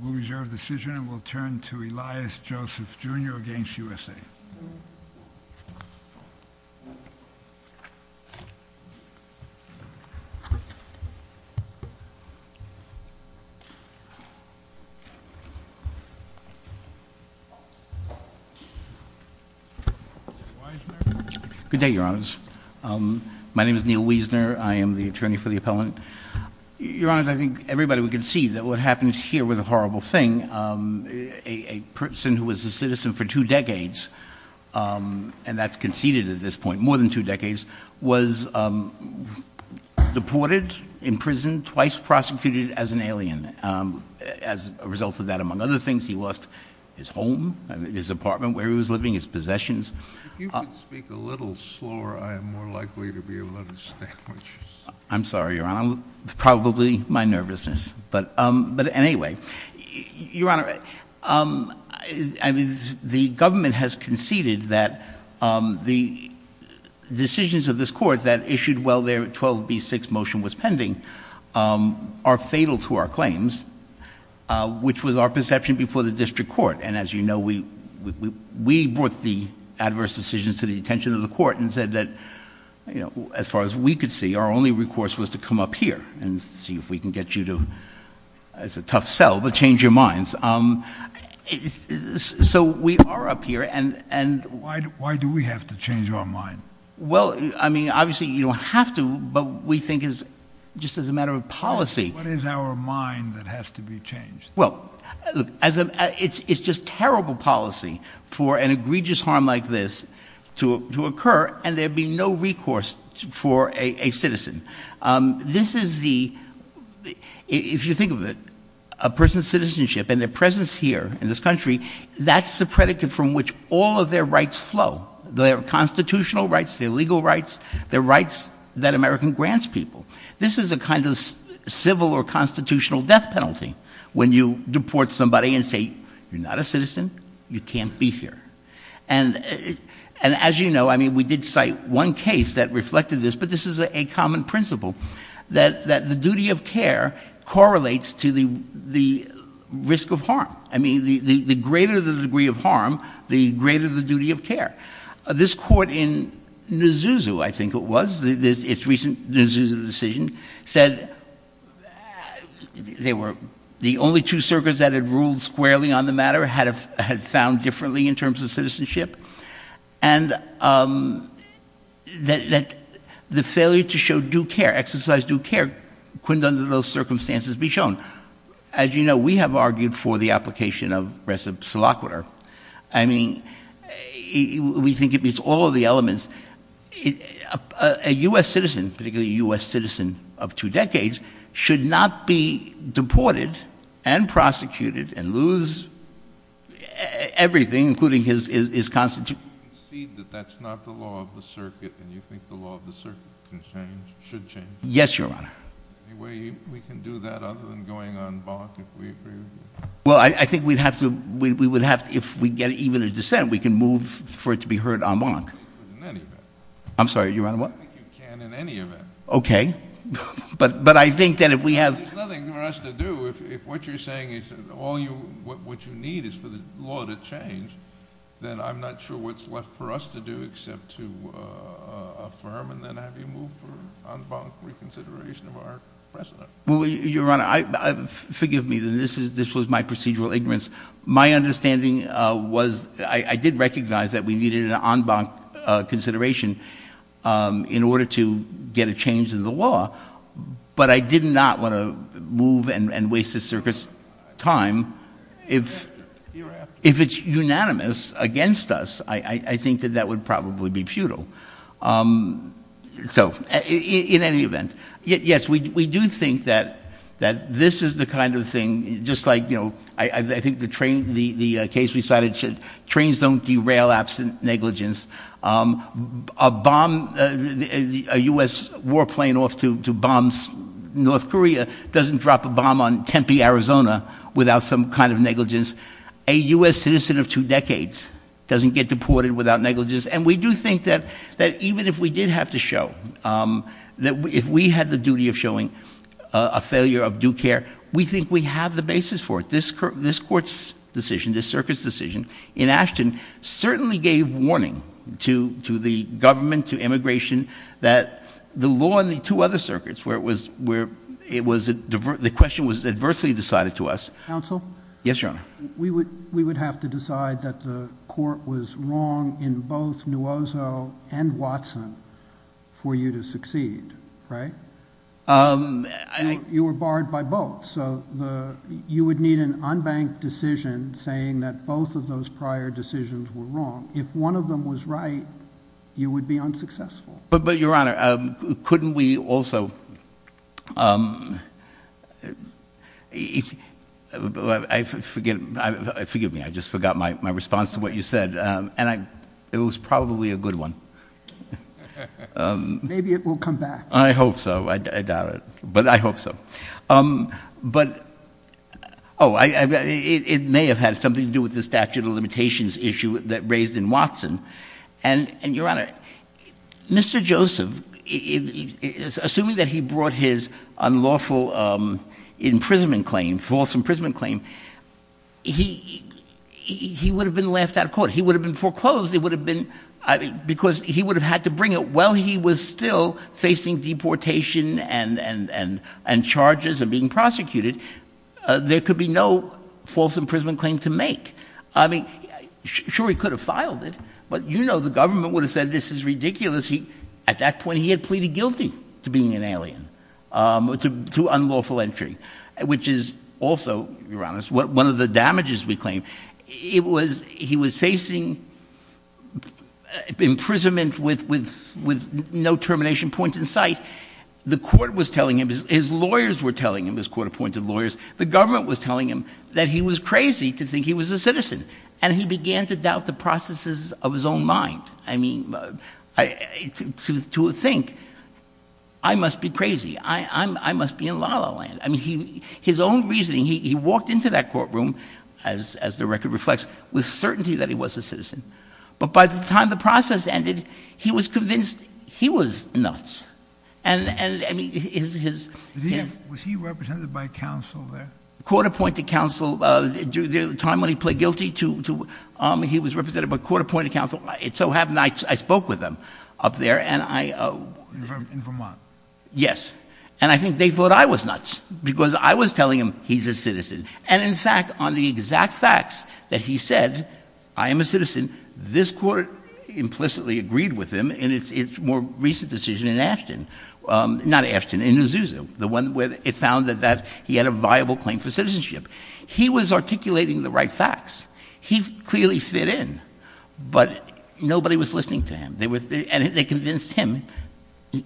We'll reserve the decision and we'll turn to Elias Joseph, Jr. v. USA Good day, Your Honors. My name is Neil Wiesner. I am the attorney for the appellant. Your Honors, I think everybody would concede that what happened here was a horrible thing. A person who was a citizen for two decades, and that's conceded at this point, more than two decades, was deported, imprisoned, twice prosecuted as an alien. As a result of that, among other things, he lost his home, his apartment where he was living, his possessions. If you could speak a little slower, I am more likely to be able to understand what you're saying. I'm sorry, Your Honor. It's probably my nervousness. But anyway, Your Honor, the government has conceded that the decisions of this court that issued while their 12B6 motion was pending are fatal to our claims, which was our perception before the district court. And as you know, we brought the adverse decisions to the attention of the court and said that, as far as we could see, our only recourse was to come up here and see if we can get you to, it's a tough sell, but change your minds. So we are up here. Why do we have to change our mind? Well, I mean, obviously you don't have to, but we think it's just as a matter of policy. What is our mind that has to be changed? Well, look, it's just terrible policy for an egregious harm like this to occur and there be no recourse for a citizen. This is the, if you think of it, a person's citizenship and their presence here in this country, that's the predicate from which all of their rights flow, their constitutional rights, their legal rights, their rights that America grants people. This is a kind of civil or constitutional death penalty when you deport somebody and say, you're not a citizen, you can't be here. And as you know, I mean, we did cite one case that reflected this, but this is a common principle that the duty of care correlates to the risk of harm. I mean, the greater the degree of harm, the greater the duty of care. This court in Nzuzu, I think it was, its recent Nzuzu decision, said they were the only two circuits that had ruled squarely on the matter, had found differently in terms of citizenship, and that the failure to show due care, exercise due care, couldn't under those circumstances be shown. As you know, we have argued for the application of reciprocal. I mean, we think it meets all of the elements. A U.S. citizen, particularly a U.S. citizen of two decades, should not be deported and prosecuted and lose everything, including his constitution. You concede that that's not the law of the circuit, and you think the law of the circuit should change? Yes, Your Honor. Any way we can do that other than going on bark if we agree with you? Well, I think we would have to, if we get even a dissent, we can move for it to be heard en banc. I'm sorry, Your Honor, what? I think you can in any event. Okay. But I think that if we have— There's nothing for us to do. If what you're saying is all you, what you need is for the law to change, then I'm not sure what's left for us to do except to affirm and then have you move for en banc reconsideration of our precedent. Well, Your Honor, forgive me, this was my procedural ignorance. My understanding was I did recognize that we needed an en banc consideration in order to get a change in the law, but I did not want to move and waste the circuit's time. If it's unanimous against us, I think that that would probably be futile. So, in any event, yes, we do think that this is the kind of thing, just like, you know, I think the case we cited, trains don't derail absent negligence. A bomb, a U.S. war plane off to bombs North Korea doesn't drop a bomb on Tempe, Arizona, without some kind of negligence. A U.S. citizen of two decades doesn't get deported without negligence, and we do think that even if we did have to show, that if we had the duty of showing a failure of due care, we think we have the basis for it. This court's decision, this circuit's decision in Ashton certainly gave warning to the government, to immigration, that the law in the two other circuits where it was, the question was adversely decided to us. Counsel? Yes, Your Honor. We would have to decide that the court was wrong in both Nuozo and Watson for you to succeed, right? You were barred by both, so you would need an unbanked decision saying that both of those prior decisions were wrong. If one of them was right, you would be unsuccessful. But, Your Honor, couldn't we also, forgive me, I just forgot my response to what you said, and it was probably a good one. Maybe it will come back. I hope so, I doubt it, but I hope so. But, oh, it may have had something to do with the statute of limitations issue that raised in Watson, and, Your Honor, Mr. Joseph, assuming that he brought his unlawful imprisonment claim, false imprisonment claim, he would have been laughed out of court. He would have been foreclosed. It would have been because he would have had to bring it while he was still facing deportation and charges and being prosecuted. There could be no false imprisonment claim to make. I mean, sure he could have filed it, but you know the government would have said this is ridiculous. At that point, he had pleaded guilty to being an alien, to unlawful entry, which is also, Your Honor, one of the damages we claim. He was facing imprisonment with no termination point in sight. The court was telling him, his lawyers were telling him, his court-appointed lawyers, the government was telling him that he was crazy to think he was a citizen, and he began to doubt the processes of his own mind. I mean, to think, I must be crazy. I must be in la-la land. I mean, his own reasoning, he walked into that courtroom, as the record reflects, with certainty that he was a citizen. But by the time the process ended, he was convinced he was nuts. And, I mean, his- Was he represented by counsel there? Court-appointed counsel. During the time when he pled guilty, he was represented by court-appointed counsel. It so happened I spoke with him up there, and I- In Vermont. Yes. And I think they thought I was nuts, because I was telling him he's a citizen. And, in fact, on the exact facts that he said, I am a citizen, this court implicitly agreed with him in its more recent decision in Ashton. Not Ashton, in Azusa, the one where it found that he had a viable claim for citizenship. He was articulating the right facts. He clearly fit in, but nobody was listening to him. They were- And they convinced him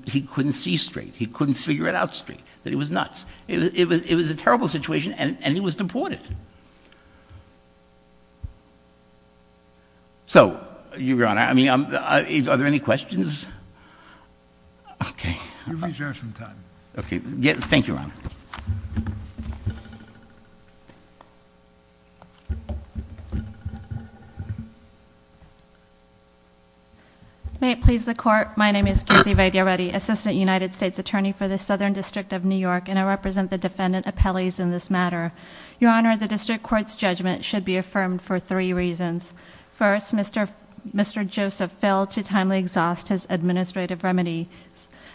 he couldn't see straight, he couldn't figure it out straight, that he was nuts. It was a terrible situation, and he was deported. So, Your Honor, I mean, are there any questions? Okay. You reserve some time. Okay. May it please the Court. My name is Kathy Vadiareddy, Assistant United States Attorney for the Southern District of New York, and I represent the defendant appellees in this matter. Your Honor, the district court's judgment should be affirmed for three reasons. First, Mr. Joseph failed to timely exhaust his administrative remedy.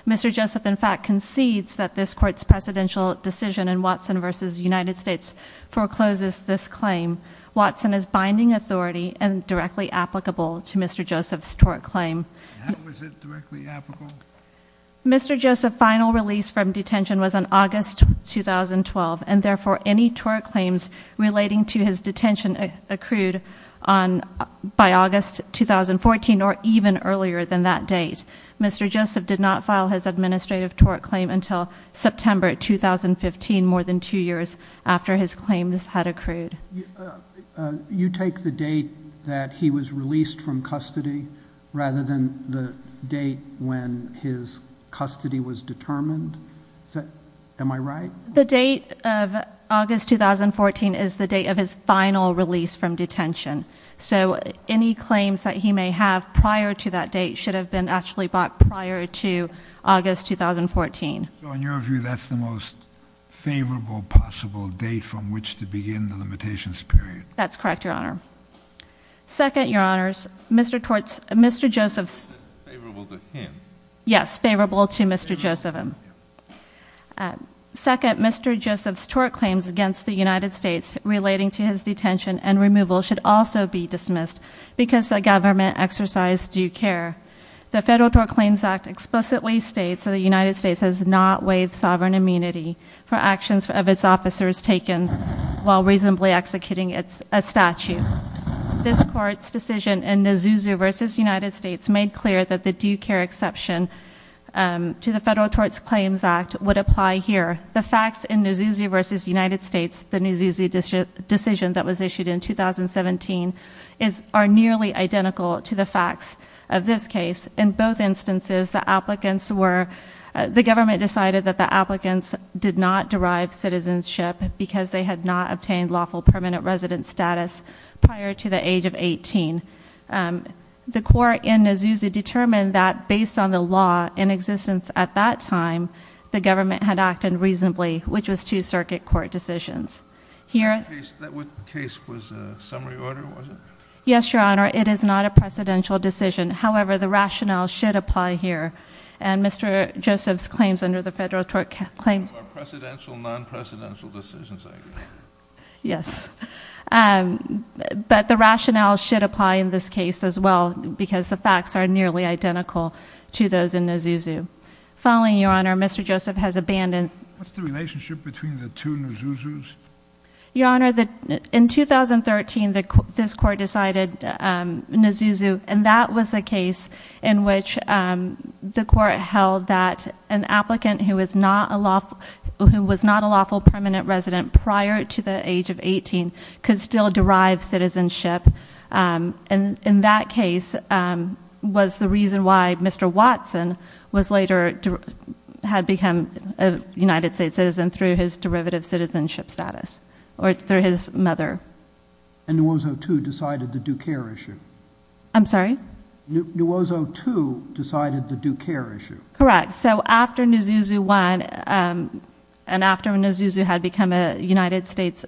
Mr. Joseph, in fact, concedes that this court's presidential decision in Watson versus United States forecloses this claim. Watson is binding authority and directly applicable to Mr. Joseph's tort claim. How is it directly applicable? Mr. Joseph's final release from detention was on August 2012, and therefore any tort claims relating to his detention accrued by August 2014 or even earlier than that date. Mr. Joseph did not file his administrative tort claim until September 2015, more than two years after his claims had accrued. You take the date that he was released from custody rather than the date when his custody was determined? Am I right? The date of August 2014 is the date of his final release from detention, so any claims that he may have prior to that date should have been actually brought prior to August 2014. So in your view, that's the most favorable possible date from which to begin the limitations period? That's correct, Your Honor. Second, Your Honors, Mr. Joseph's- Favorable to him. Yes, favorable to Mr. Joseph. Second, Mr. Joseph's tort claims against the United States relating to his detention and removal should also be dismissed because the government exercised due care. The Federal Tort Claims Act explicitly states that the United States has not waived sovereign immunity for actions of its officers taken while reasonably executing a statute. This court's decision in Nzusi v. United States made clear that the due care exception to the Federal Tort Claims Act would apply here. The facts in Nzusi v. United States, the Nzusi decision that was issued in 2017, are nearly identical to the facts of this case. In both instances, the applicants were- the government decided that the applicants did not derive citizenship because they had not obtained lawful permanent resident status prior to the age of 18. The court in Nzusi determined that based on the law in existence at that time, the government had acted reasonably, which was two circuit court decisions. Here- That case was a summary order, was it? Yes, Your Honor. It is not a precedential decision. However, the rationale should apply here. And Mr. Joseph's claims under the Federal Tort Claims- More precedential, non-precedential decisions, I guess. Yes. But the rationale should apply in this case as well because the facts are nearly identical to those in Nzusi. Following, Your Honor, Mr. Joseph has abandoned- What's the relationship between the two Nzusis? Your Honor, in 2013, this court decided Nzusi, and that was the case in which the court held that an applicant who was not a lawful permanent resident prior to the age of 18 could still derive citizenship. And in that case was the reason why Mr. Watson later had become a United States citizen through his derivative citizenship status or through his mother. And Nuozo, too, decided the due care issue. I'm sorry? Nuozo, too, decided the due care issue. Correct. So after Nzusi won and after Nzusi had become a United States-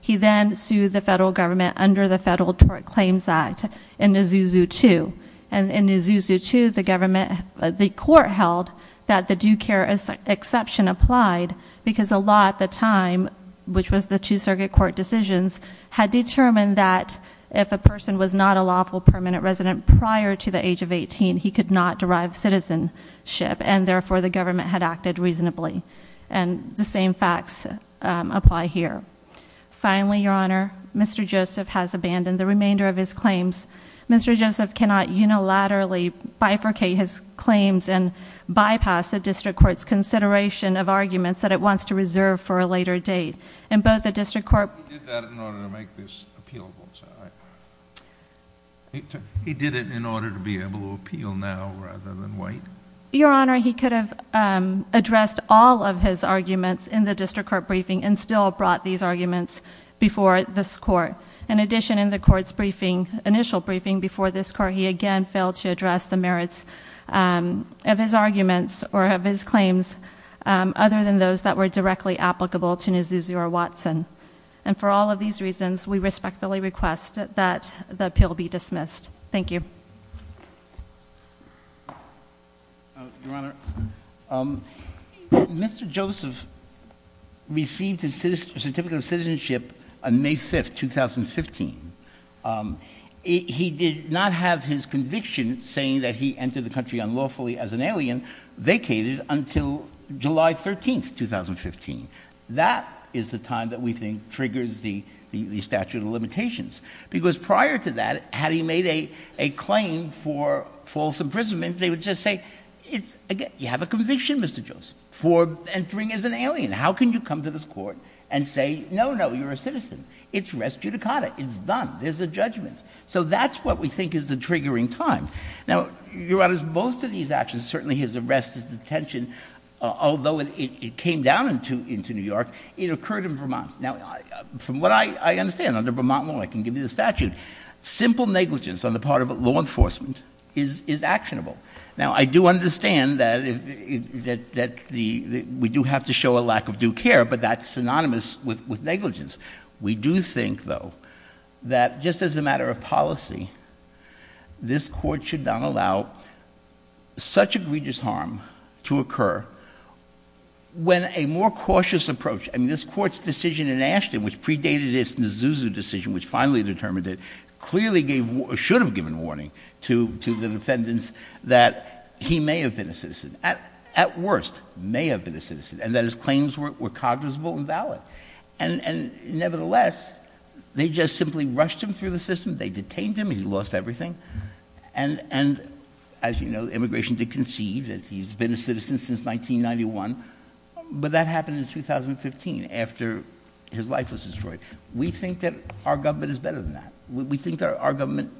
He then sued the federal government under the Federal Tort Claims Act in Nzusi, too. And in Nzusi, too, the court held that the due care exception applied because the law at the time, which was the two circuit court decisions, had determined that if a person was not a lawful permanent resident prior to the age of 18, he could not derive citizenship, and therefore the government had acted reasonably. And the same facts apply here. Finally, Your Honor, Mr. Joseph has abandoned the remainder of his claims. Mr. Joseph cannot unilaterally bifurcate his claims and bypass the district court's consideration of arguments that it wants to reserve for a later date. And both the district court- He did that in order to make this appealable. He did it in order to be able to appeal now rather than wait. Your Honor, he could have addressed all of his arguments in the district court briefing and still brought these arguments before this court. In addition, in the court's briefing, initial briefing before this court, he again failed to address the merits of his arguments or of his claims other than those that were directly applicable to Nzusi or Watson. And for all of these reasons, we respectfully request that the appeal be dismissed. Thank you. Your Honor, Mr. Joseph received his certificate of citizenship on May 5, 2015. He did not have his conviction saying that he entered the country unlawfully as an alien vacated until July 13, 2015. That is the time that we think triggers the statute of limitations. Because prior to that, had he made a claim for false imprisonment, they would just say, you have a conviction, Mr. Joseph, for entering as an alien. How can you come to this court and say, no, no, you're a citizen? It's res judicata. It's done. There's a judgment. So that's what we think is the triggering time. Now, Your Honor, most of these actions, certainly his arrest, his detention, although it came down into New York, it occurred in Vermont. Now, from what I understand, under Vermont law, I can give you the statute, simple negligence on the part of law enforcement is actionable. Now, I do understand that we do have to show a lack of due care, but that's synonymous with negligence. We do think, though, that just as a matter of policy, this Court should not allow such egregious harm to occur when a more cautious approach, I mean, this Court's decision in Ashton, which predated its Nisuzu decision, which finally determined it, clearly should have given warning to the defendants that he may have been a citizen, at worst, may have been a citizen, and that his claims were cognizable and valid. And nevertheless, they just simply rushed him through the system. They detained him. He lost everything. And as you know, immigration did conceive that he's been a citizen since 1991, but that happened in 2015 after his life was destroyed. We think that our government is better than that. We think that our government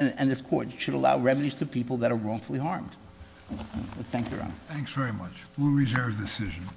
and this Court should allow remedies to people that are wrongfully harmed. Thank you, Your Honor. Thanks very much. We'll reserve the decision.